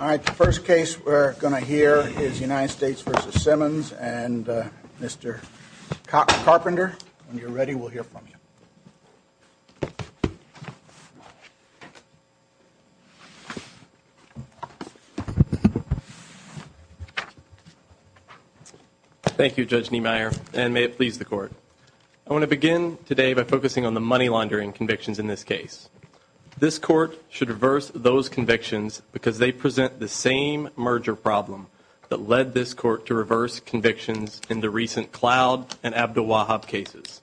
All right, the first case we're going to hear is United States v. Simmons and Mr. Carpenter, when you're ready, we'll hear from you. Thank you, Judge Niemeyer, and may it please the court. I want to begin today by focusing on the money laundering convictions in this case. This court should reverse those convictions because they present the same merger problem that led this court to reverse convictions in the recent Cloud and Abdelwahab cases.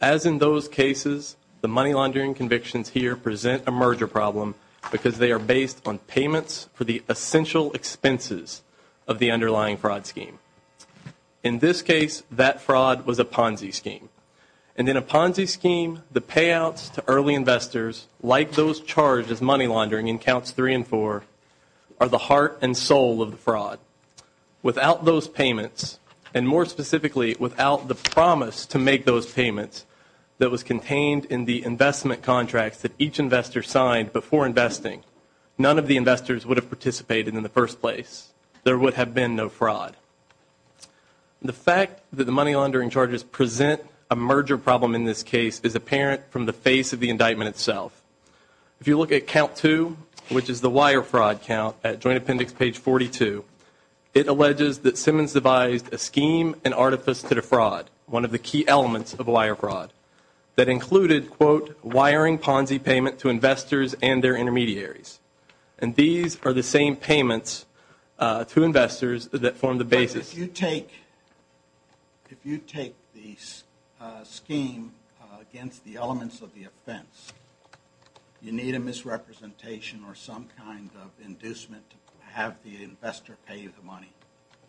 As in those cases, the money laundering convictions here present a merger problem because they are based on payments for the essential expenses of the underlying fraud scheme. In this case, that fraud was a Ponzi scheme. And in a Ponzi scheme, the payouts to early investors, like those charged as money laundering in Counts 3 and 4, are the heart and soul of the fraud. Without those payments, and more specifically, without the promise to make those payments that was contained in the investment contracts that each investor signed before investing, none of the investors would have participated in the first place. There would have been no fraud. The fact that the money laundering charges present a merger problem in this case is apparent from the face of the indictment itself. If you look at Count 2, which is the wire fraud count, at Joint Appendix page 42, it alleges that Simmons devised a scheme and artifice to defraud, one of the key elements of wire fraud, that included, quote, wiring Ponzi payment to investors and their intermediaries. And these are the same payments to investors that form the basis. If you take the scheme against the elements of the offense, you need a misrepresentation or some kind of inducement to have the investor pay you the money,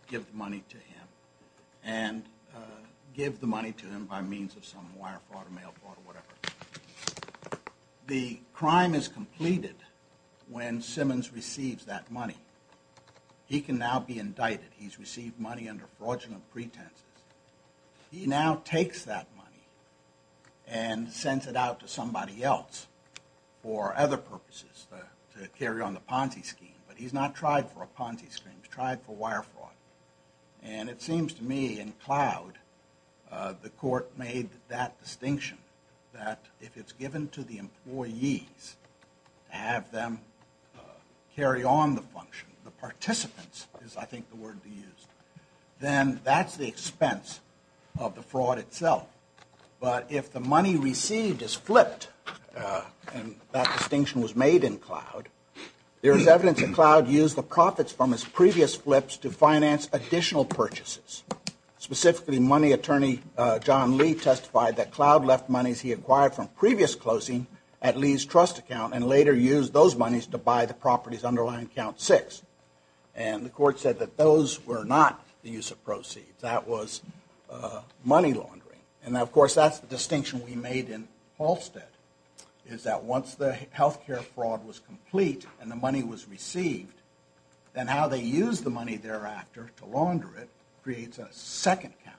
give the money to him, and give the money to him by means of some wire fraud or mail fraud or whatever. The crime is completed when Simmons receives that money. He can now be indicted. He's received money under fraudulent pretenses. He now takes that money and sends it out to somebody else for other purposes, to carry on the Ponzi scheme. But he's not tried for a Ponzi scheme. He's tried for wire fraud. And it seems to me, in cloud, the court made that distinction, that if it's given to the employees to have them carry on the function, the participants is, I think, the word to use, then that's the expense of the fraud itself. But if the money received is flipped, and that distinction was made in cloud, there is evidence that cloud used the profits from his previous flips to finance additional purchases. Specifically, money attorney John Lee testified that cloud left monies he acquired from previous closing at Lee's trust account and later used those monies to buy the properties underlying count six. And the court said that those were not the use of proceeds. That was money laundering. And, of course, that's the distinction we made in Halstead, is that once the health care fraud was complete and the money was received, then how they used the money thereafter to launder it creates a second account.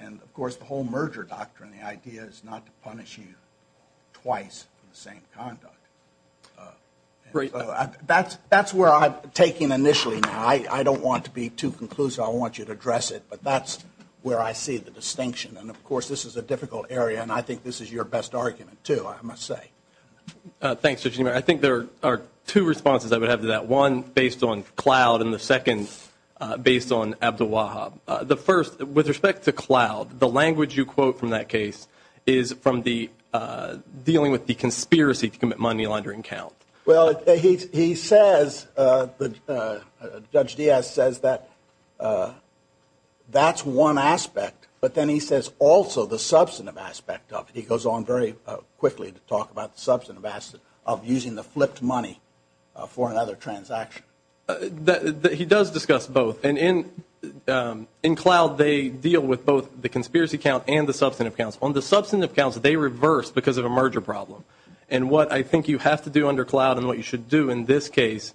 And, of course, the whole merger doctrine, the idea is not to punish you twice for the same conduct. That's where I'm taking initially now. I don't want to be too conclusive. I want you to address it. But that's where I see the distinction. And, of course, this is a difficult area, and I think this is your best argument, too, I must say. Thanks, Judge Niemeyer. I think there are two responses I would have to that, one based on cloud and the second based on Abdu'l-Wahhab. The first, with respect to cloud, the language you quote from that case is from the dealing with the conspiracy to commit money laundering count. Well, he says, Judge Diaz says that that's one aspect. But then he says also the substantive aspect of it. He goes on very quickly to talk about the substantive aspect of using the flipped money for another transaction. He does discuss both. And in cloud, they deal with both the conspiracy count and the substantive counts. On the substantive counts, they reverse because of a merger problem. And what I think you have to do under cloud and what you should do in this case,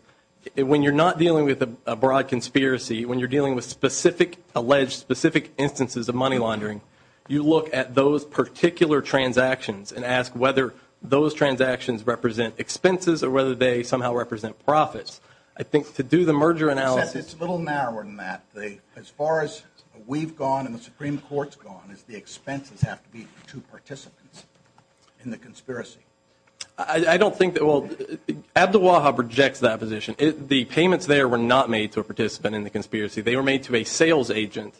when you're not dealing with a broad conspiracy, when you're dealing with specific alleged specific instances of money laundering, you look at those particular transactions and ask whether those transactions represent expenses or whether they somehow represent profits. I think to do the merger analysis. It's a little narrower than that. As far as we've gone and the Supreme Court's gone, is the expenses have to be to participants in the conspiracy. I don't think that will. Abdullahab rejects that position. The payments there were not made to a participant in the conspiracy. They were made to a sales agent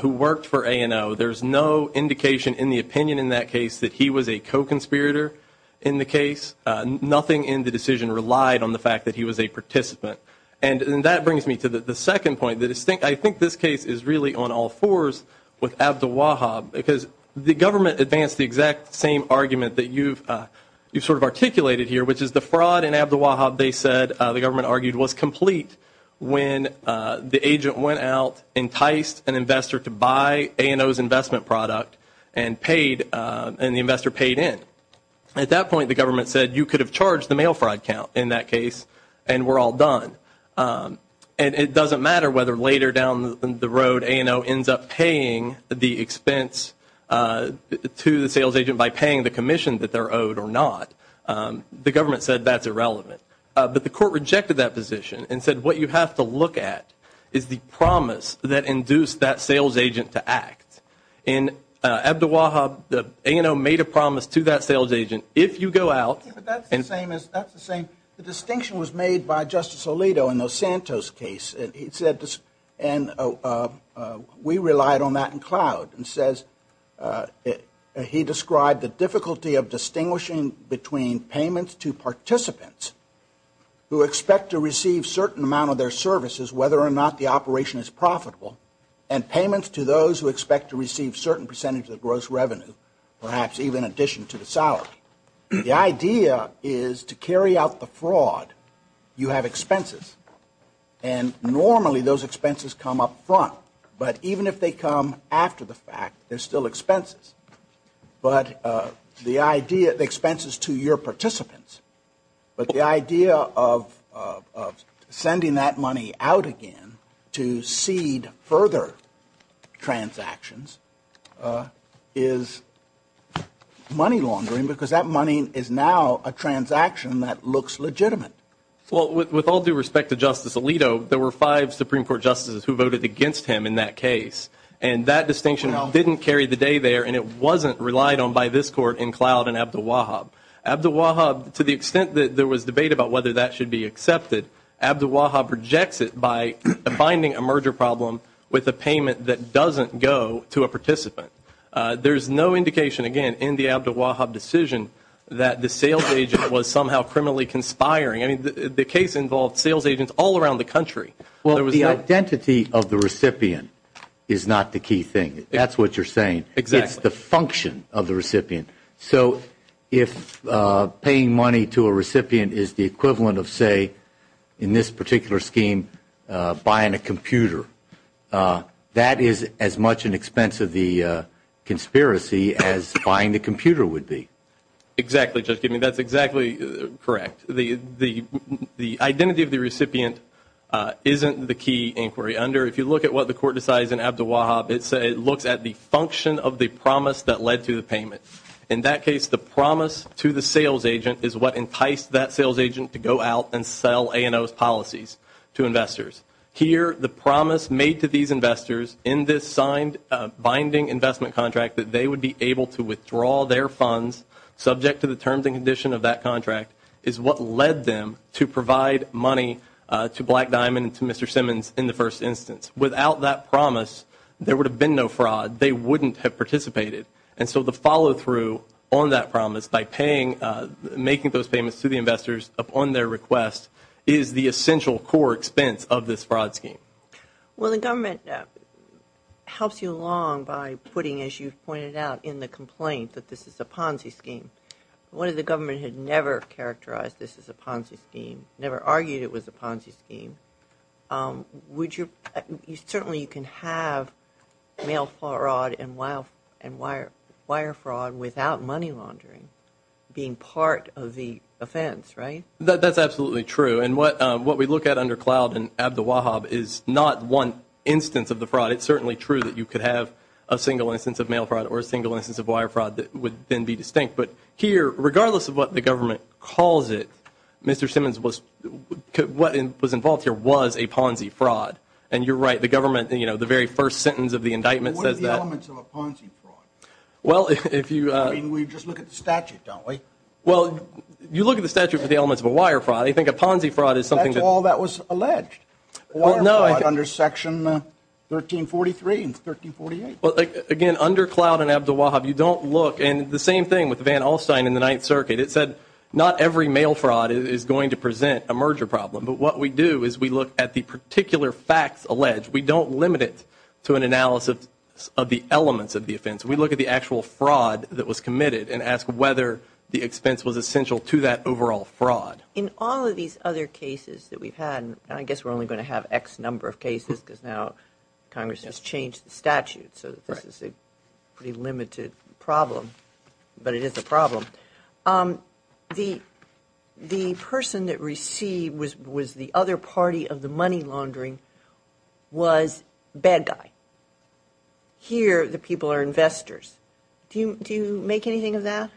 who worked for ANO. There's no indication in the opinion in that case that he was a co-conspirator in the case. Nothing in the decision relied on the fact that he was a participant. And that brings me to the second point. I think this case is really on all fours with Abdullahab because the government advanced the exact same argument that you've sort of articulated here, which is the fraud in Abdullahab, they said, the government argued, was complete when the agent went out, enticed an investor to buy ANO's investment product, and the investor paid in. At that point, the government said you could have charged the mail fraud count in that case and we're all done. And it doesn't matter whether later down the road ANO ends up paying the expense to the sales agent by paying the commission that they're owed or not. The government said that's irrelevant. But the court rejected that position and said what you have to look at is the promise that induced that sales agent to act. And Abdullahab, ANO made a promise to that sales agent, if you go out. That's the same. The distinction was made by Justice Alito in the Santos case. He said this and we relied on that in cloud and says he described the difficulty of distinguishing between payments to participants who expect to receive certain amount of their services, whether or not the operation is profitable, and payments to those who expect to receive certain percentage of gross revenue, perhaps even addition to the salary. The idea is to carry out the fraud, you have expenses. And normally those expenses come up front. But even if they come after the fact, they're still expenses. But the idea of expenses to your participants, but the idea of sending that money out again to seed further transactions is money laundering, because that money is now a transaction that looks legitimate. Well, with all due respect to Justice Alito, there were five Supreme Court justices who voted against him in that case. And that distinction didn't carry the day there, and it wasn't relied on by this court in cloud and Abdullahab. Abdullahab, to the extent that there was debate about whether that should be accepted, Abdullahab rejects it by finding a merger problem with a payment that doesn't go to a participant. There's no indication, again, in the Abdullahab decision that the sales agent was somehow criminally conspiring. I mean, the case involved sales agents all around the country. Well, the identity of the recipient is not the key thing. That's what you're saying. Exactly. It's the function of the recipient. So if paying money to a recipient is the equivalent of, say, in this particular scheme, buying a computer, that is as much an expense of the conspiracy as buying the computer would be. Exactly, Judge Gibman. That's exactly correct. The identity of the recipient isn't the key inquiry under. If you look at what the court decides in Abdullahab, it looks at the function of the promise that led to the payment. In that case, the promise to the sales agent is what enticed that sales agent to go out and sell A&O's policies to investors. Here, the promise made to these investors in this signed binding investment contract that they would be able to withdraw their funds, subject to the terms and conditions of that contract, is what led them to provide money to Black Diamond and to Mr. Simmons in the first instance. Without that promise, there would have been no fraud. They wouldn't have participated. So the follow-through on that promise by making those payments to the investors upon their request is the essential core expense of this fraud scheme. Well, the government helps you along by putting, as you've pointed out, in the complaint that this is a Ponzi scheme. What if the government had never characterized this as a Ponzi scheme, never argued it was a Ponzi scheme? Certainly you can have mail fraud and wire fraud without money laundering being part of the offense, right? That's absolutely true. And what we look at under Cloud and Abdu'l-Wahab is not one instance of the fraud. It's certainly true that you could have a single instance of mail fraud or a single instance of wire fraud that would then be distinct. But here, regardless of what the government calls it, Mr. Simmons, what was involved here was a Ponzi fraud. And you're right, the government, you know, the very first sentence of the indictment says that. What are the elements of a Ponzi fraud? Well, if you… I mean, we just look at the statute, don't we? Well, you look at the statute for the elements of a wire fraud. I think a Ponzi fraud is something that… That's all that was alleged, wire fraud under Section 1343 and 1348. Again, under Cloud and Abdu'l-Wahab, you don't look. And the same thing with Van Alstyne and the Ninth Circuit. It said not every mail fraud is going to present a merger problem. But what we do is we look at the particular facts alleged. We don't limit it to an analysis of the elements of the offense. We look at the actual fraud that was committed and ask whether the expense was essential to that overall fraud. In all of these other cases that we've had, and I guess we're only going to have X number of cases because now Congress has changed the statute, so this is a pretty limited problem, but it is a problem. The person that received was the other party of the money laundering was bad guy. Here, the people are investors. Do you make anything of that?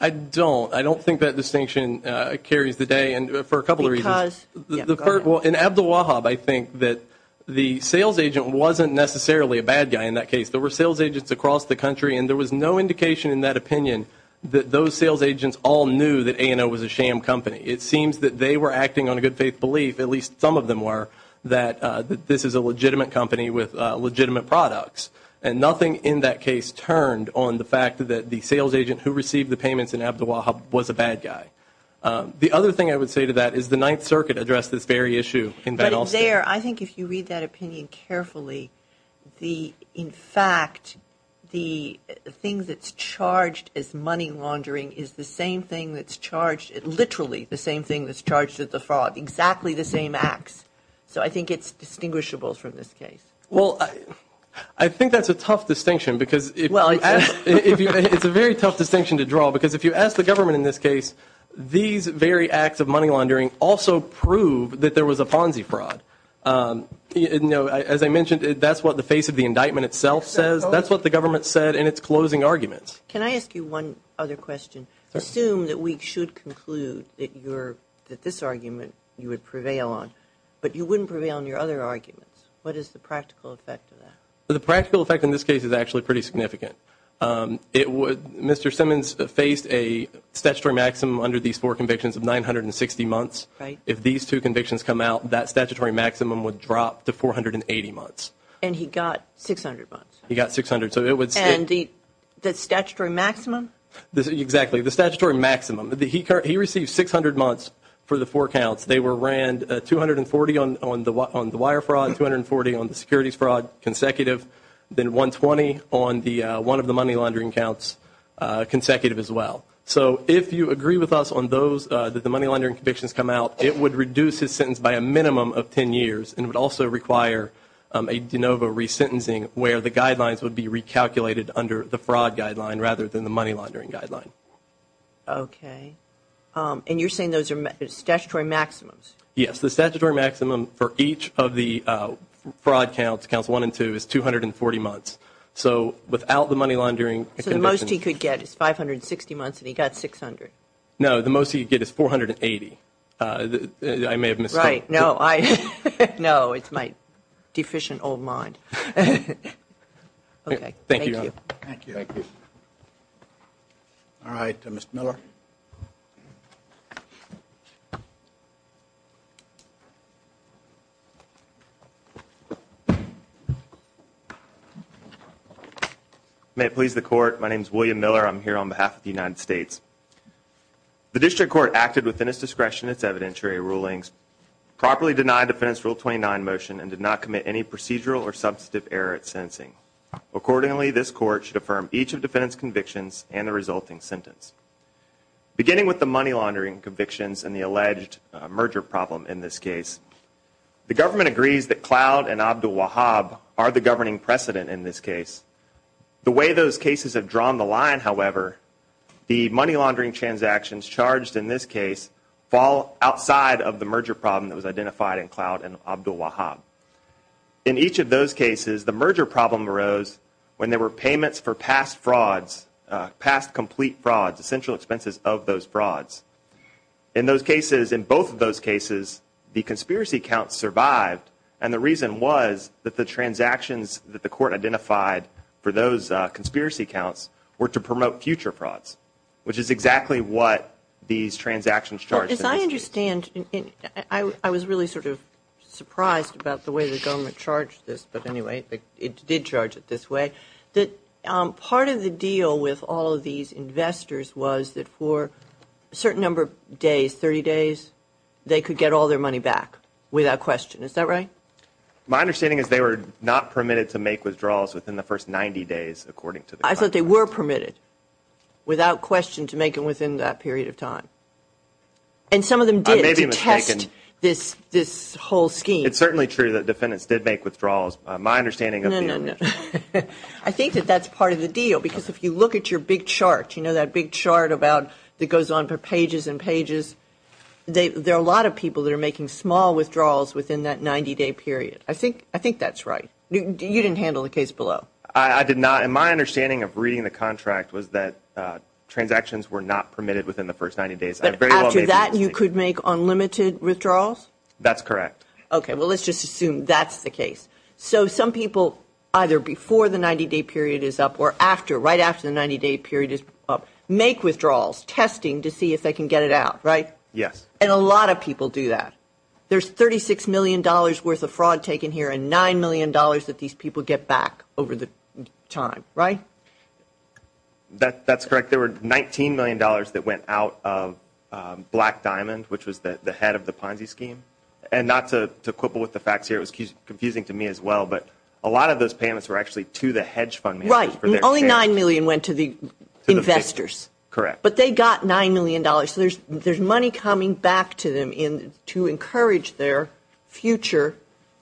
I don't. I don't think that distinction carries the day for a couple of reasons. Because? Well, in Abdu'l-Wahab, I think that the sales agent wasn't necessarily a bad guy, in that case. There were sales agents across the country, and there was no indication in that opinion that those sales agents all knew that A&O was a sham company. It seems that they were acting on a good faith belief, at least some of them were, that this is a legitimate company with legitimate products. And nothing in that case turned on the fact that the sales agent who received the payments in Abdu'l-Wahab was a bad guy. The other thing I would say to that is the Ninth Circuit addressed this very issue. But there, I think if you read that opinion carefully, in fact the thing that's charged as money laundering is the same thing that's charged, literally the same thing that's charged as the fraud, exactly the same acts. So I think it's distinguishable from this case. Well, I think that's a tough distinction because it's a very tough distinction to draw. Because if you ask the government in this case, these very acts of money laundering also prove that there was a Ponzi fraud. As I mentioned, that's what the face of the indictment itself says. That's what the government said in its closing arguments. Can I ask you one other question? Assume that we should conclude that this argument you would prevail on, but you wouldn't prevail on your other arguments. What is the practical effect of that? The practical effect in this case is actually pretty significant. Mr. Simmons faced a statutory maximum under these four convictions of 960 months. If these two convictions come out, that statutory maximum would drop to 480 months. And he got 600 months. He got 600. And the statutory maximum? Exactly, the statutory maximum. He received 600 months for the four counts. They were ran 240 on the wire fraud, 240 on the securities fraud consecutive, then 120 on one of the money laundering counts consecutive as well. So if you agree with us on those, that the money laundering convictions come out, it would reduce his sentence by a minimum of 10 years and would also require a de novo resentencing where the guidelines would be recalculated under the fraud guideline rather than the money laundering guideline. Okay. And you're saying those are statutory maximums? Yes. The statutory maximum for each of the fraud counts, counts one and two, is 240 months. So without the money laundering convictions. The most he could get is 560 months, and he got 600. No, the most he could get is 480. I may have missed that. Right. No, it's my deficient old mind. Thank you. Thank you. Thank you. All right, Mr. Miller. May it please the court. My name is William Miller. I'm here on behalf of the United States. The district court acted within its discretion, its evidentiary rulings, properly denied Defendant's Rule 29 motion Accordingly, this court should affirm each of Defendant's convictions and the resulting sentence. Beginning with the money laundering convictions and the alleged merger problem in this case, the government agrees that Cloud and Abdul-Wahhab are the governing precedent in this case. The way those cases have drawn the line, however, the money laundering transactions charged in this case fall outside of the merger problem that was identified in Cloud and Abdul-Wahhab. In each of those cases, the merger problem arose when there were payments for past frauds, past complete frauds, essential expenses of those frauds. In those cases, in both of those cases, the conspiracy counts survived, and the reason was that the transactions that the court identified for those conspiracy counts were to promote future frauds, which is exactly what these transactions charged in this case. I was really sort of surprised about the way the government charged this. But anyway, it did charge it this way. Part of the deal with all of these investors was that for a certain number of days, 30 days, they could get all their money back without question. Is that right? My understanding is they were not permitted to make withdrawals within the first 90 days, according to the court. And some of them did, to test this whole scheme. It's certainly true that defendants did make withdrawals. My understanding of the ownership. No, no, no. I think that that's part of the deal, because if you look at your big chart, you know that big chart that goes on for pages and pages, there are a lot of people that are making small withdrawals within that 90-day period. I think that's right. You didn't handle the case below. I did not. And my understanding of reading the contract was that transactions were not permitted within the first 90 days. After that, you could make unlimited withdrawals? That's correct. Okay. Well, let's just assume that's the case. So some people, either before the 90-day period is up or right after the 90-day period is up, make withdrawals, testing to see if they can get it out, right? Yes. And a lot of people do that. There's $36 million worth of fraud taken here and $9 million that these people get back over the time, right? That's correct. I think there were $19 million that went out of Black Diamond, which was the head of the Ponzi scheme. And not to quibble with the facts here, it was confusing to me as well, but a lot of those payments were actually to the hedge fund managers. Right. Only $9 million went to the investors. Correct. But they got $9 million. So there's money coming back to them to encourage their future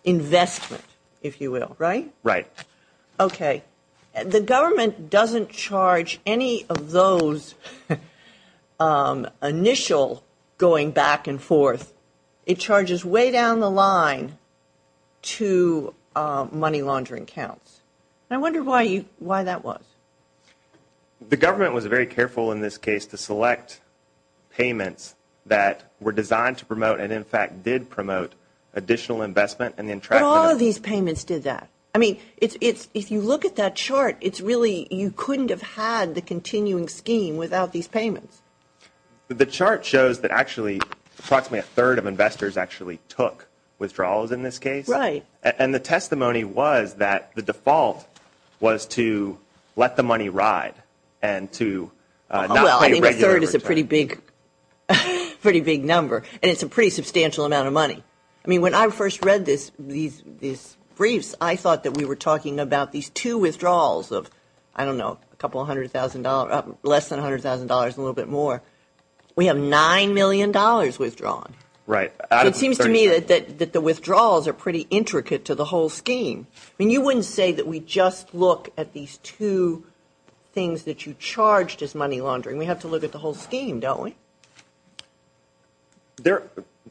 investment, if you will, right? Right. Okay. The government doesn't charge any of those initial going back and forth. It charges way down the line to money laundering counts. I wonder why that was. The government was very careful in this case to select payments that were designed to promote and, in fact, did promote additional investment. But all of these payments did that. I mean, if you look at that chart, it's really you couldn't have had the continuing scheme without these payments. The chart shows that actually approximately a third of investors actually took withdrawals in this case. Right. And the testimony was that the default was to let the money ride and to not pay regular returns. Well, I think a third is a pretty big number, and it's a pretty substantial amount of money. I mean, when I first read these briefs, I thought that we were talking about these two withdrawals of, I don't know, a couple hundred thousand dollars, less than $100,000 and a little bit more. We have $9 million withdrawn. Right. It seems to me that the withdrawals are pretty intricate to the whole scheme. I mean, you wouldn't say that we just look at these two things that you charged as money laundering. We have to look at the whole scheme, don't we?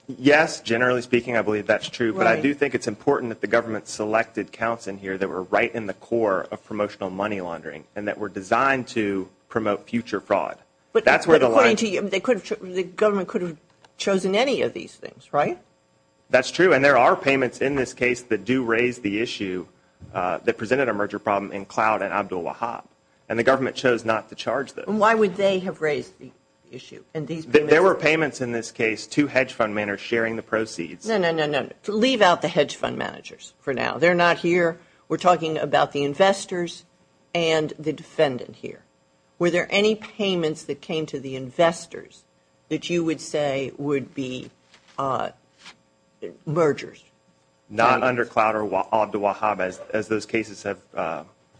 Yes, generally speaking, I believe that's true. Right. But I do think it's important that the government selected counts in here that were right in the core of promotional money laundering and that were designed to promote future fraud. But according to you, the government could have chosen any of these things, right? That's true, and there are payments in this case that do raise the issue that presented a merger problem in Cloud and Abdul Wahab, and the government chose not to charge those. And why would they have raised the issue? There were payments in this case to hedge fund managers sharing the proceeds. No, no, no, no. Leave out the hedge fund managers for now. They're not here. We're talking about the investors and the defendant here. Were there any payments that came to the investors that you would say would be mergers? Not under Cloud or Abdul Wahab, as those cases have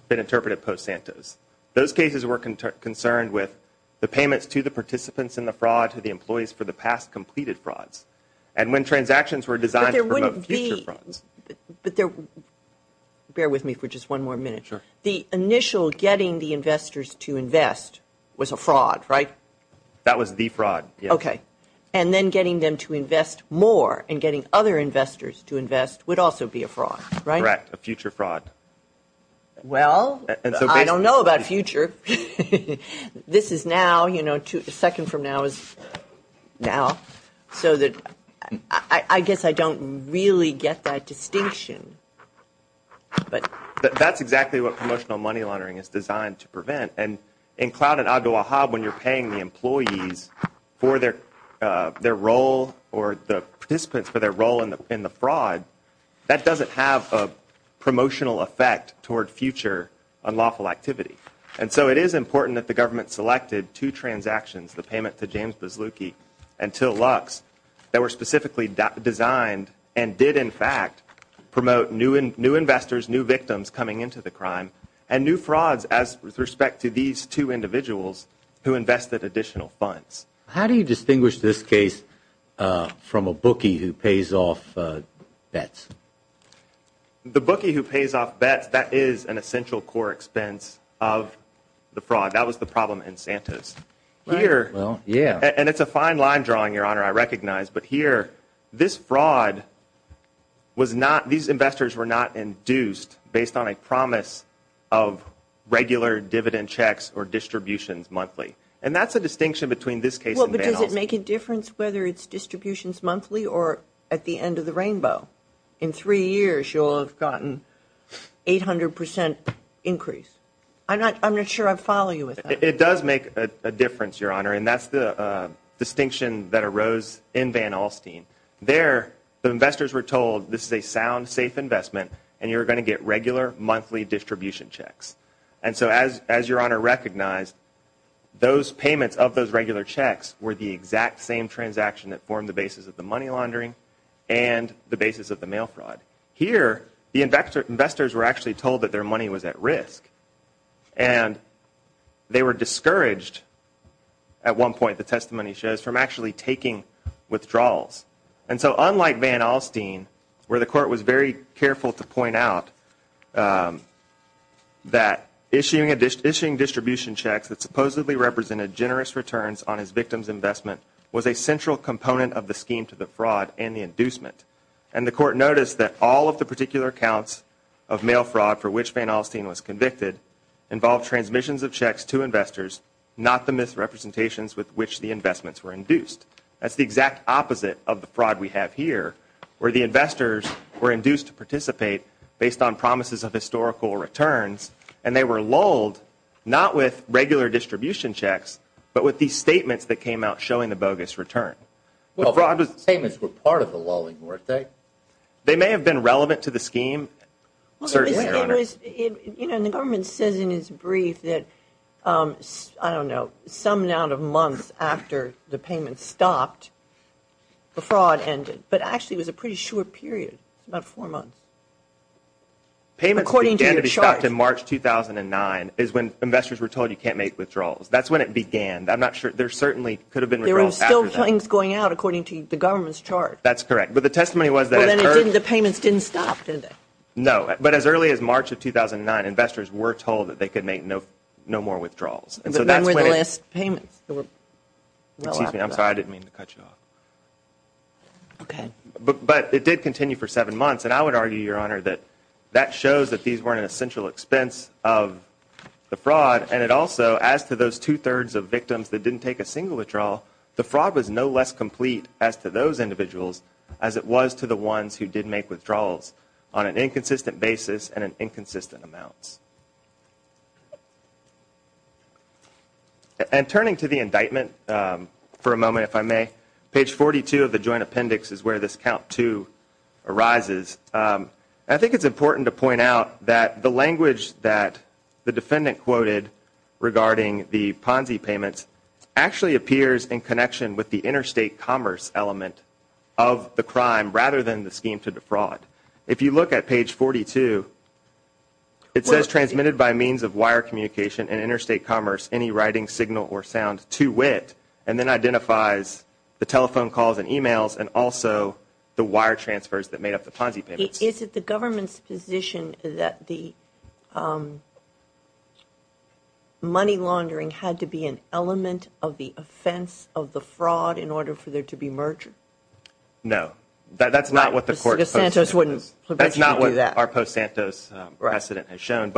been interpreted post-Santos. Those cases were concerned with the payments to the participants in the fraud, to the employees for the past completed frauds. And when transactions were designed to promote future frauds. But there wouldn't be – bear with me for just one more minute. Sure. The initial getting the investors to invest was a fraud, right? That was the fraud, yes. Okay. And then getting them to invest more and getting other investors to invest would also be a fraud, right? Correct, a future fraud. Well, I don't know about future. This is now, you know, a second from now is now. So I guess I don't really get that distinction. But that's exactly what promotional money laundering is designed to prevent. And in Cloud and Abdul Wahab, when you're paying the employees for their role or the participants for their role in the fraud, that doesn't have a promotional effect toward future unlawful activity. And so it is important that the government selected two transactions, the payment to James Buzluki and Till Lux, that were specifically designed and did, in fact, promote new investors, new victims coming into the crime, and new frauds with respect to these two individuals who invested additional funds. How do you distinguish this case from a bookie who pays off bets? The bookie who pays off bets, that is an essential core expense of the fraud. That was the problem in Santos. Here, and it's a fine line drawing, Your Honor, I recognize. But here, this fraud was not, these investors were not induced based on a promise of regular dividend checks or distributions monthly. And that's a distinction between this case and Van Alstyne. Well, but does it make a difference whether it's distributions monthly or at the end of the rainbow? In three years, you'll have gotten 800 percent increase. I'm not sure I follow you with that. It does make a difference, Your Honor, and that's the distinction that arose in Van Alstyne. There, the investors were told this is a sound, safe investment, and you're going to get regular monthly distribution checks. And so as Your Honor recognized, those payments of those regular checks were the exact same transaction that formed the basis of the money laundering and the basis of the mail fraud. Here, the investors were actually told that their money was at risk, and they were discouraged at one point, the testimony shows, from actually taking withdrawals. And so unlike Van Alstyne, where the court was very careful to point out that issuing distribution checks that supposedly represented generous returns on his victim's investment was a central component of the scheme to the fraud and the inducement. And the court noticed that all of the particular accounts of mail fraud for which Van Alstyne was convicted involved transmissions of checks to investors, not the misrepresentations with which the investments were induced. That's the exact opposite of the fraud we have here, where the investors were induced to participate based on promises of historical returns, and they were lulled not with regular distribution checks, but with these statements that came out showing the bogus return. Well, the payments were part of the lulling, weren't they? They may have been relevant to the scheme, certainly, Your Honor. The government says in its brief that, I don't know, some amount of months after the payments stopped, the fraud ended. But actually, it was a pretty short period, about four months. Payments began to be stopped in March 2009 is when investors were told you can't make withdrawals. That's when it began. I'm not sure. There certainly could have been withdrawals after that. There were still things going out according to the government's chart. That's correct. Well, then the payments didn't stop, did they? No. But as early as March of 2009, investors were told that they could make no more withdrawals. When were the last payments? Excuse me. I'm sorry. I didn't mean to cut you off. Okay. But it did continue for seven months. And I would argue, Your Honor, that that shows that these weren't an essential expense of the fraud. And it also, as to those two-thirds of victims that didn't take a single withdrawal, the fraud was no less complete as to those individuals as it was to the ones who did make withdrawals on an inconsistent basis and in inconsistent amounts. And turning to the indictment for a moment, if I may, page 42 of the joint appendix is where this count two arises. I think it's important to point out that the language that the defendant quoted regarding the Ponzi payments actually appears in connection with the interstate commerce element of the crime rather than the scheme to defraud. If you look at page 42, it says, transmitted by means of wire communication and interstate commerce, any writing, signal, or sound to wit, and then identifies the telephone calls and e-mails and also the wire transfers that made up the Ponzi payments. Is it the government's position that the money laundering had to be an element of the offense of the fraud in order for there to be merger? No. That's not what the court's post-Santos precedent has shown.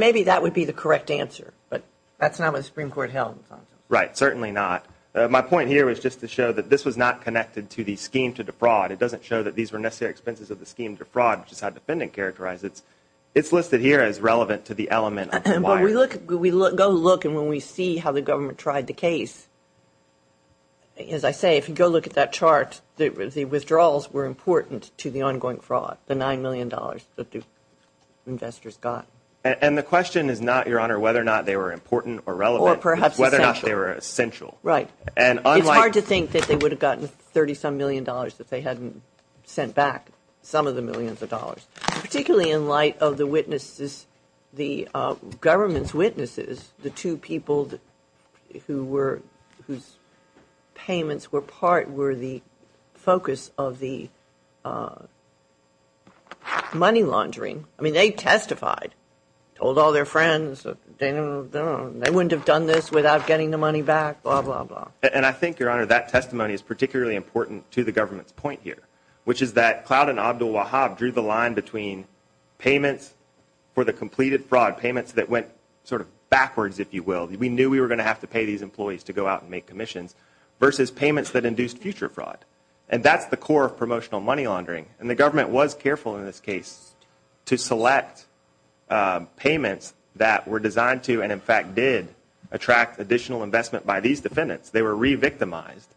Maybe that would be the correct answer, but that's not what the Supreme Court held. Right, certainly not. My point here was just to show that this was not connected to the scheme to defraud. It doesn't show that these were necessary expenses of the scheme to fraud, which is how the defendant characterized it. It's listed here as relevant to the element of the wire. We go look, and when we see how the government tried the case, as I say, if you go look at that chart, the withdrawals were important to the ongoing fraud, the $9 million that the investors got. And the question is not, Your Honor, whether or not they were important or relevant. Or perhaps essential. Whether or not they were essential. Right. It's hard to think that they would have gotten $30-some million if they hadn't sent back some of the millions of dollars. Particularly in light of the government's witnesses, the two people whose payments were part were the focus of the money laundering. I mean, they testified, told all their friends, they wouldn't have done this without getting the money back, blah, blah, blah. And I think, Your Honor, that testimony is particularly important to the government's point here, which is that Cloud and Abdul Wahab drew the line between payments for the completed fraud, payments that went sort of backwards, if you will. We knew we were going to have to pay these employees to go out and make commissions, versus payments that induced future fraud. And that's the core of promotional money laundering. And the government was careful in this case to select payments that were designed to, and in fact did, attract additional investment by these defendants. They were re-victimized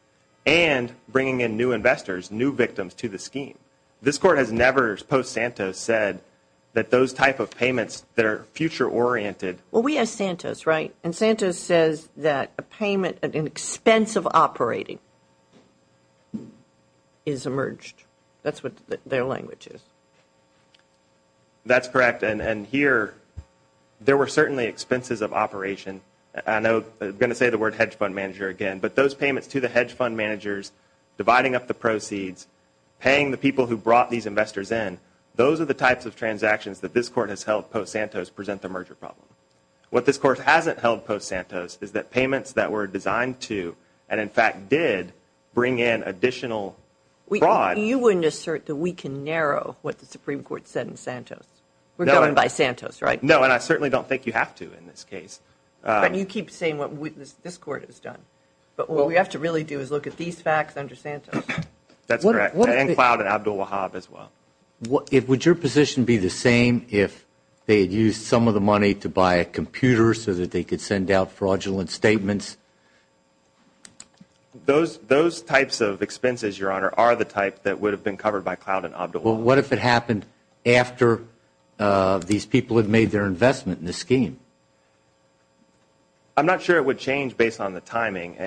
and bringing in new investors, new victims to the scheme. This Court has never, post-Santos, said that those type of payments that are future-oriented. Well, we asked Santos, right? And Santos says that a payment at an expense of operating is emerged. That's what their language is. That's correct. And here, there were certainly expenses of operation. I'm going to say the word hedge fund manager again. But those payments to the hedge fund managers, dividing up the proceeds, paying the people who brought these investors in, those are the types of transactions that this Court has held post-Santos present the merger problem. What this Court hasn't held post-Santos is that payments that were designed to, and in fact did, bring in additional fraud. You wouldn't assert that we can narrow what the Supreme Court said in Santos. We're going by Santos, right? No, and I certainly don't think you have to in this case. But you keep saying what this Court has done. But what we have to really do is look at these facts under Santos. That's correct. And Cloud and Abdul Wahab as well. Would your position be the same if they had used some of the money to buy a computer so that they could send out fraudulent statements? Those types of expenses, Your Honor, are the type that would have been covered by Cloud and Abdul Wahab. Well, what if it happened after these people had made their investment in the scheme? I'm not sure it would change based on the timing.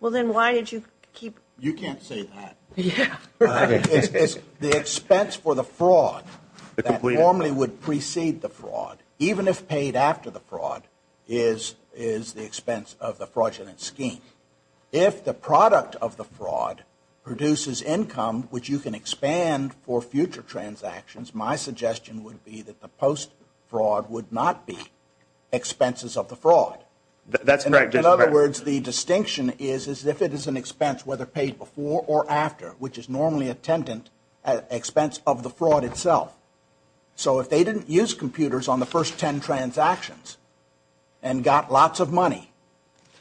Well, then why did you keep? You can't say that. It's the expense for the fraud that normally would precede the fraud, even if paid after the fraud is the expense of the fraudulent scheme. If the product of the fraud produces income which you can expand for future transactions, my suggestion would be that the post-fraud would not be expenses of the fraud. That's correct. In other words, the distinction is if it is an expense whether paid before or after, which is normally a tenant, expense of the fraud itself. So if they didn't use computers on the first ten transactions and got lots of money,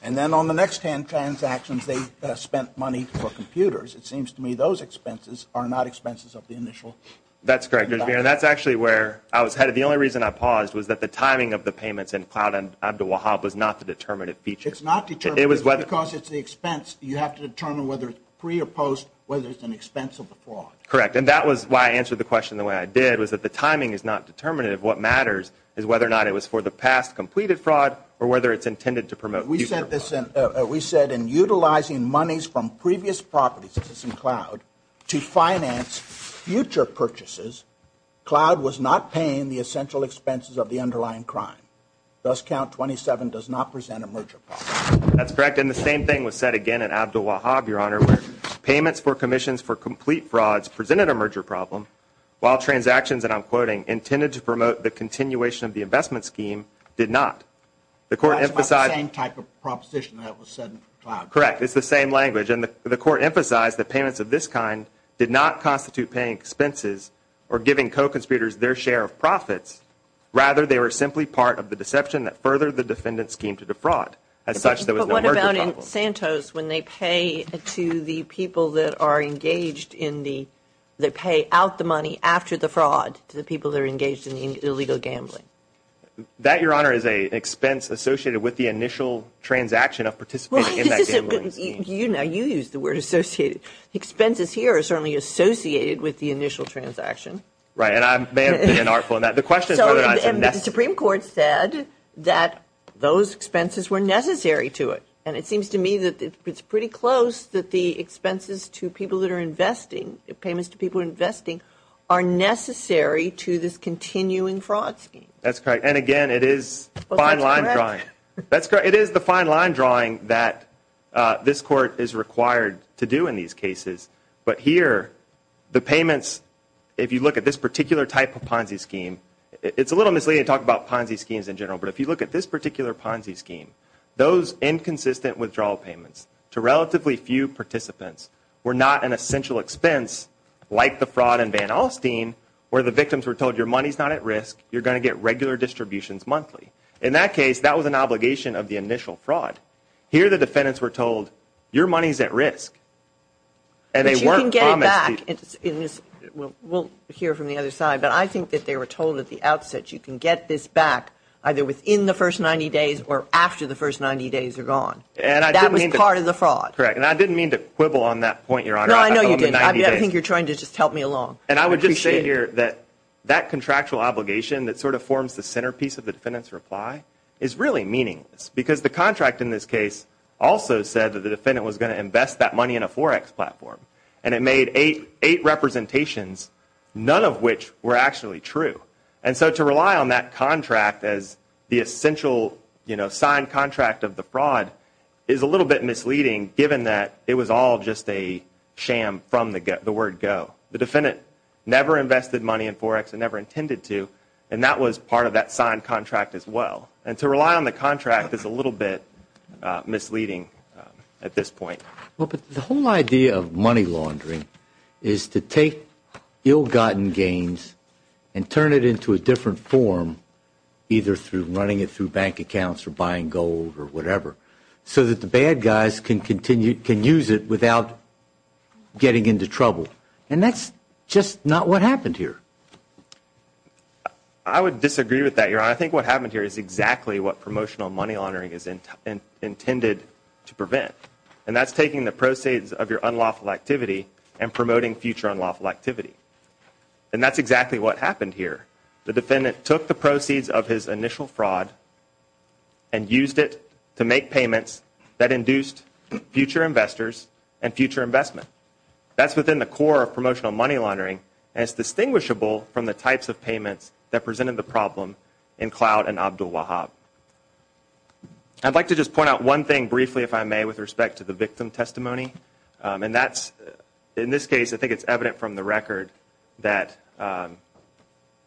and then on the next ten transactions they spent money for computers, it seems to me those expenses are not expenses of the initial transaction. That's correct. That's actually where I was headed. The only reason I paused was that the timing of the payments in Cloud and Abdul Wahab was not the determinative feature. It's not determinative because it's the expense. You have to determine whether it's pre or post whether it's an expense of the fraud. Correct. And that was why I answered the question the way I did was that the timing is not determinative. What matters is whether or not it was for the past completed fraud or whether it's intended to promote future fraud. We said in utilizing monies from previous properties in Cloud to finance future purchases, Cloud was not paying the essential expenses of the underlying crime. Thus, count 27 does not present a merger problem. That's correct. And the same thing was said again in Abdul Wahab, Your Honor, where payments for commissions for complete frauds presented a merger problem while transactions, and I'm quoting, intended to promote the continuation of the investment scheme did not. That's about the same type of proposition that was said in Cloud. Correct. It's the same language. And the Court emphasized that payments of this kind did not constitute paying expenses or giving co-conspirators their share of profits. Rather, they were simply part of the deception that furthered the defendant's scheme to defraud as such there was no merger problem. What happens in Santos when they pay to the people that are engaged in the, they pay out the money after the fraud to the people that are engaged in the illegal gambling? That, Your Honor, is an expense associated with the initial transaction of participating in that gambling scheme. You know, you used the word associated. Expenses here are certainly associated with the initial transaction. Right, and I may have been unartful in that. The question is whether or not it's a necessary. And it seems to me that it's pretty close that the expenses to people that are investing, payments to people investing, are necessary to this continuing fraud scheme. That's correct. And, again, it is fine line drawing. That's correct. It is the fine line drawing that this Court is required to do in these cases. But here, the payments, if you look at this particular type of Ponzi scheme, it's a little misleading to talk about Ponzi schemes in general, but if you look at this particular Ponzi scheme, those inconsistent withdrawal payments to relatively few participants were not an essential expense like the fraud in Van Alstyne where the victims were told, your money's not at risk. You're going to get regular distributions monthly. In that case, that was an obligation of the initial fraud. Here, the defendants were told, your money's at risk. But you can get it back. We'll hear from the other side, but I think that they were told at the outset, that you can get this back either within the first 90 days or after the first 90 days are gone. That was part of the fraud. Correct, and I didn't mean to quibble on that point, Your Honor. No, I know you didn't. I think you're trying to just help me along. And I would just say here that that contractual obligation that sort of forms the centerpiece of the defendant's reply is really meaningless because the contract in this case also said that the defendant was going to invest that money in a Forex platform, and it made eight representations, none of which were actually true. And so to rely on that contract as the essential signed contract of the fraud is a little bit misleading given that it was all just a sham from the word go. The defendant never invested money in Forex and never intended to, and that was part of that signed contract as well. And to rely on the contract is a little bit misleading at this point. Well, but the whole idea of money laundering is to take ill-gotten gains and turn it into a different form, either through running it through bank accounts or buying gold or whatever, so that the bad guys can use it without getting into trouble. And that's just not what happened here. I would disagree with that, Your Honor. I think what happened here is exactly what promotional money laundering is intended to prevent, and that's taking the proceeds of your unlawful activity and promoting future unlawful activity. And that's exactly what happened here. The defendant took the proceeds of his initial fraud and used it to make payments that induced future investors and future investment. That's within the core of promotional money laundering, and it's distinguishable from the types of payments that presented the problem in Cloud and Abdul Wahab. I'd like to just point out one thing briefly, if I may, with respect to the victim testimony, and that's, in this case, I think it's evident from the record, that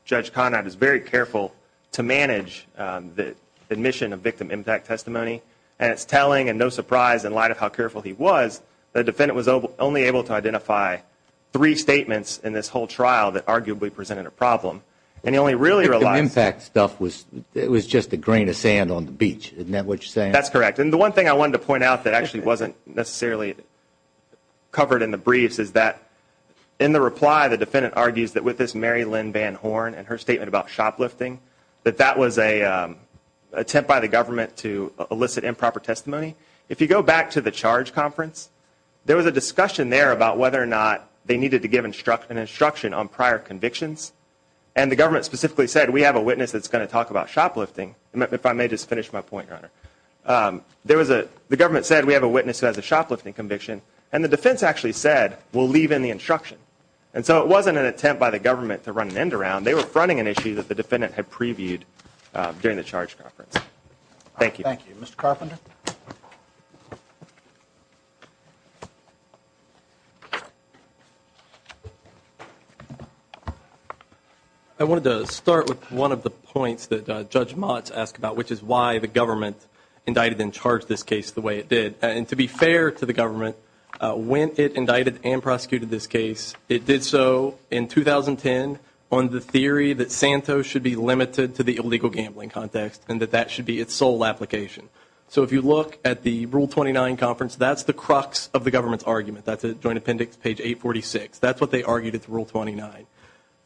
Judge Conrad is very careful to manage the admission of victim impact testimony, and it's telling, and no surprise, in light of how careful he was, that the defendant was only able to identify three statements in this whole trial that arguably presented a problem, and he only really realized... The victim impact stuff was just a grain of sand on the beach. Isn't that what you're saying? That's correct. And the one thing I wanted to point out that actually wasn't necessarily covered in the briefs is that in the reply, the defendant argues that with this Mary Lynn Van Horn and her statement about shoplifting, that that was an attempt by the government to elicit improper testimony. If you go back to the charge conference, there was a discussion there about whether or not they needed to give an instruction on prior convictions, and the government specifically said, we have a witness that's going to talk about shoplifting. If I may just finish my point, Your Honor. The government said, we have a witness who has a shoplifting conviction, and the defense actually said, we'll leave in the instruction. And so it wasn't an attempt by the government to run an end around. They were fronting an issue that the defendant had previewed during the charge conference. Thank you. Thank you. Mr. Carpenter? I wanted to start with one of the points that Judge Motz asked about, which is why the government indicted and charged this case the way it did. And to be fair to the government, when it indicted and prosecuted this case, it did so in 2010 on the theory that Santos should be limited to the illegal gambling context and that that should be its sole application. So if you look at the Rule 29 conference, that's the crux of the government's argument. That's at Joint Appendix, page 846. That's what they argued at the Rule 29.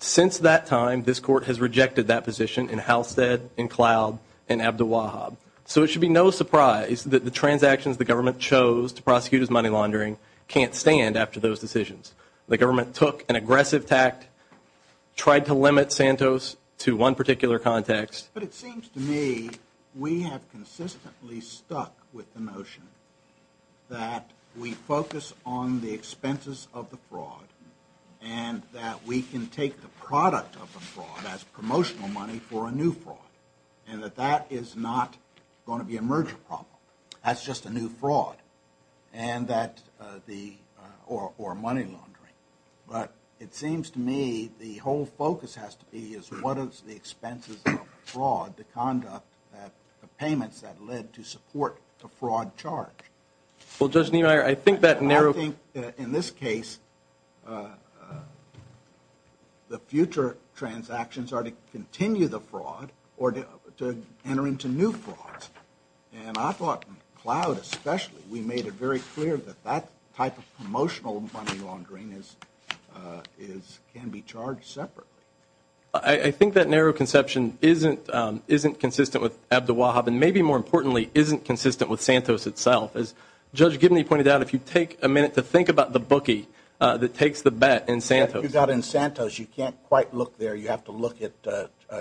Since that time, this court has rejected that position in Halstead, in Cloud, and Abduwahab. So it should be no surprise that the transactions the government chose to prosecute as money laundering can't stand after those decisions. The government took an aggressive tact, tried to limit Santos to one particular context. But it seems to me we have consistently stuck with the notion that we focus on the expenses of the fraud and that we can take the product of the fraud as promotional money for a new fraud and that that is not going to be a merger problem. That's just a new fraud or money laundering. But it seems to me the whole focus has to be is what is the expenses of fraud, the conduct, the payments that led to support the fraud charge. Well, Judge Niemeyer, I think that narrows it. I think in this case the future transactions are to continue the fraud or to enter into new frauds. And I thought in Cloud especially we made it very clear that that type of promotional money laundering can be charged separately. I think that narrow conception isn't consistent with Abduwahab and maybe more importantly isn't consistent with Santos itself. As Judge Gibney pointed out, if you take a minute to think about the bookie that takes the bet in Santos. If you've got in Santos, you can't quite look there. You have to look at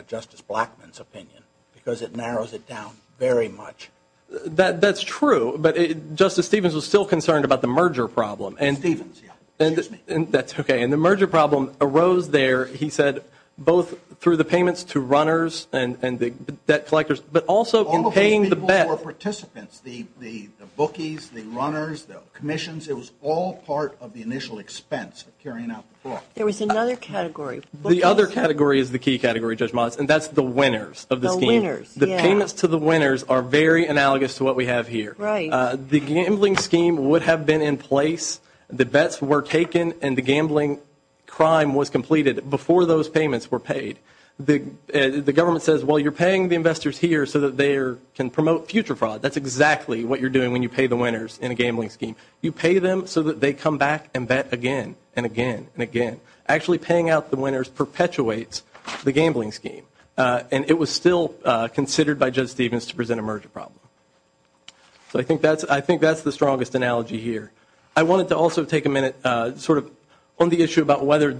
Justice Blackmun's opinion because it narrows it down very much. That's true. But Justice Stevens was still concerned about the merger problem. Stevens, yeah. Excuse me. That's okay. And the merger problem arose there, he said, both through the payments to runners and the debt collectors but also in paying the bet. All of those people were participants, the bookies, the runners, the commissions. It was all part of the initial expense of carrying out the fraud. There was another category. The other category is the key category, Judge Motz, and that's the winners of the scheme. The winners, yeah. The payments to the winners are very analogous to what we have here. The gambling scheme would have been in place. The bets were taken and the gambling crime was completed before those payments were paid. The government says, well, you're paying the investors here so that they can promote future fraud. That's exactly what you're doing when you pay the winners in a gambling scheme. Actually, paying out the winners perpetuates the gambling scheme, and it was still considered by Judge Stevens to present a merger problem. So I think that's the strongest analogy here. I wanted to also take a minute sort of on the issue about whether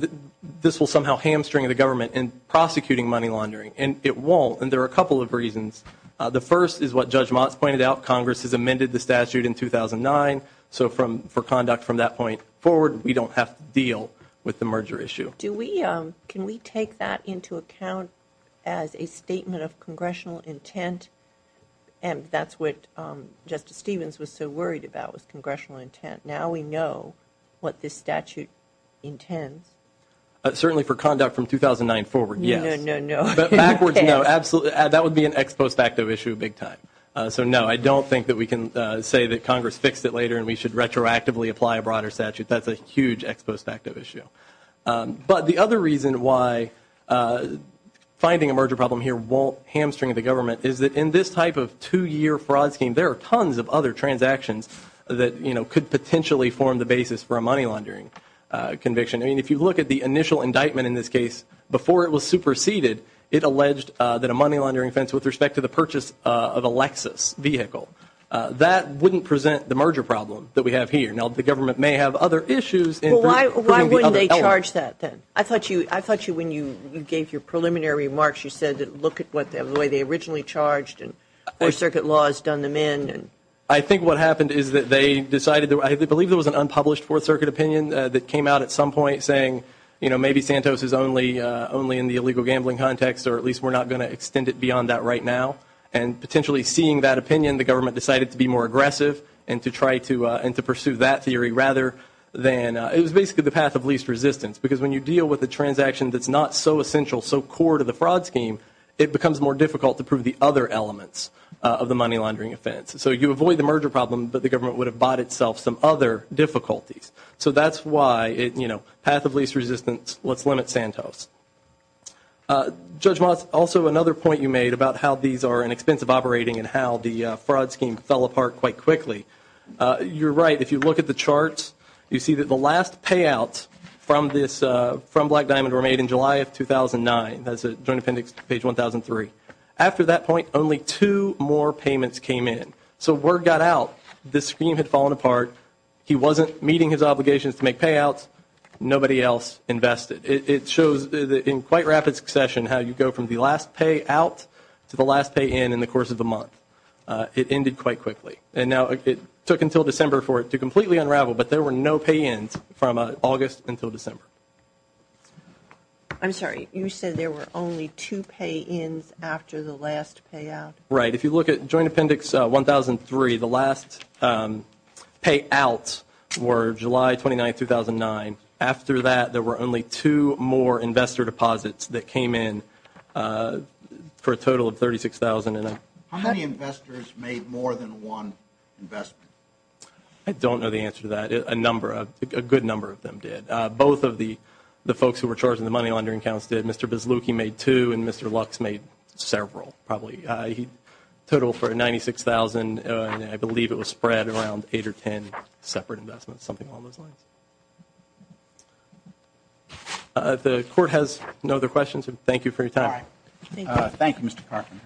this will somehow hamstring the government in prosecuting money laundering, and it won't, and there are a couple of reasons. The first is what Judge Motz pointed out. Congress has amended the statute in 2009, so for conduct from that point forward, we don't have to deal with the merger issue. Can we take that into account as a statement of congressional intent, and that's what Justice Stevens was so worried about was congressional intent. Now we know what this statute intends. Certainly for conduct from 2009 forward, yes. No, no, no. Backwards, no, absolutely. That would be an ex post facto issue big time. So, no, I don't think that we can say that Congress fixed it later and we should retroactively apply a broader statute. That's a huge ex post facto issue. But the other reason why finding a merger problem here won't hamstring the government is that in this type of two-year fraud scheme, there are tons of other transactions that could potentially form the basis for a money laundering conviction. I mean, if you look at the initial indictment in this case, before it was superseded, it alleged that a money laundering offense with respect to the purchase of a Lexus vehicle, that wouldn't present the merger problem that we have here. Now, the government may have other issues. Well, why wouldn't they charge that then? I thought you, when you gave your preliminary remarks, you said look at the way they originally charged and Fourth Circuit laws done them in. I think what happened is that they decided, I believe there was an unpublished Fourth Circuit opinion that came out at some point saying, you know, maybe Santos is only in the illegal gambling context or at least we're not going to extend it beyond that right now. And potentially seeing that opinion, the government decided to be more aggressive and to try to pursue that theory rather than, it was basically the path of least resistance. Because when you deal with a transaction that's not so essential, so core to the fraud scheme, it becomes more difficult to prove the other elements of the money laundering offense. So you avoid the merger problem, but the government would have bought itself some other difficulties. So that's why, you know, path of least resistance, let's limit Santos. Judge Moss, also another point you made about how these are inexpensive operating and how the fraud scheme fell apart quite quickly. You're right. If you look at the charts, you see that the last payouts from Black Diamond were made in July of 2009. That's Joint Appendix, page 1003. After that point, only two more payments came in. So word got out. This scheme had fallen apart. He wasn't meeting his obligations to make payouts. Nobody else invested. It shows in quite rapid succession how you go from the last payout to the last pay-in in the course of the month. It ended quite quickly. And now it took until December for it to completely unravel, but there were no pay-ins from August until December. I'm sorry. You said there were only two pay-ins after the last payout. Right. If you look at Joint Appendix 1003, the last payouts were July 29, 2009. After that, there were only two more investor deposits that came in for a total of $36,000. How many investors made more than one investment? I don't know the answer to that. A good number of them did. Both of the folks who were charging the money laundering accounts did. Mr. Bislucki made two, and Mr. Lux made several, probably. Total for $96,000, I believe it was spread around eight or ten separate investments, something along those lines. The Court has no other questions. Thank you for your time. Thank you, Mr. Carpenter.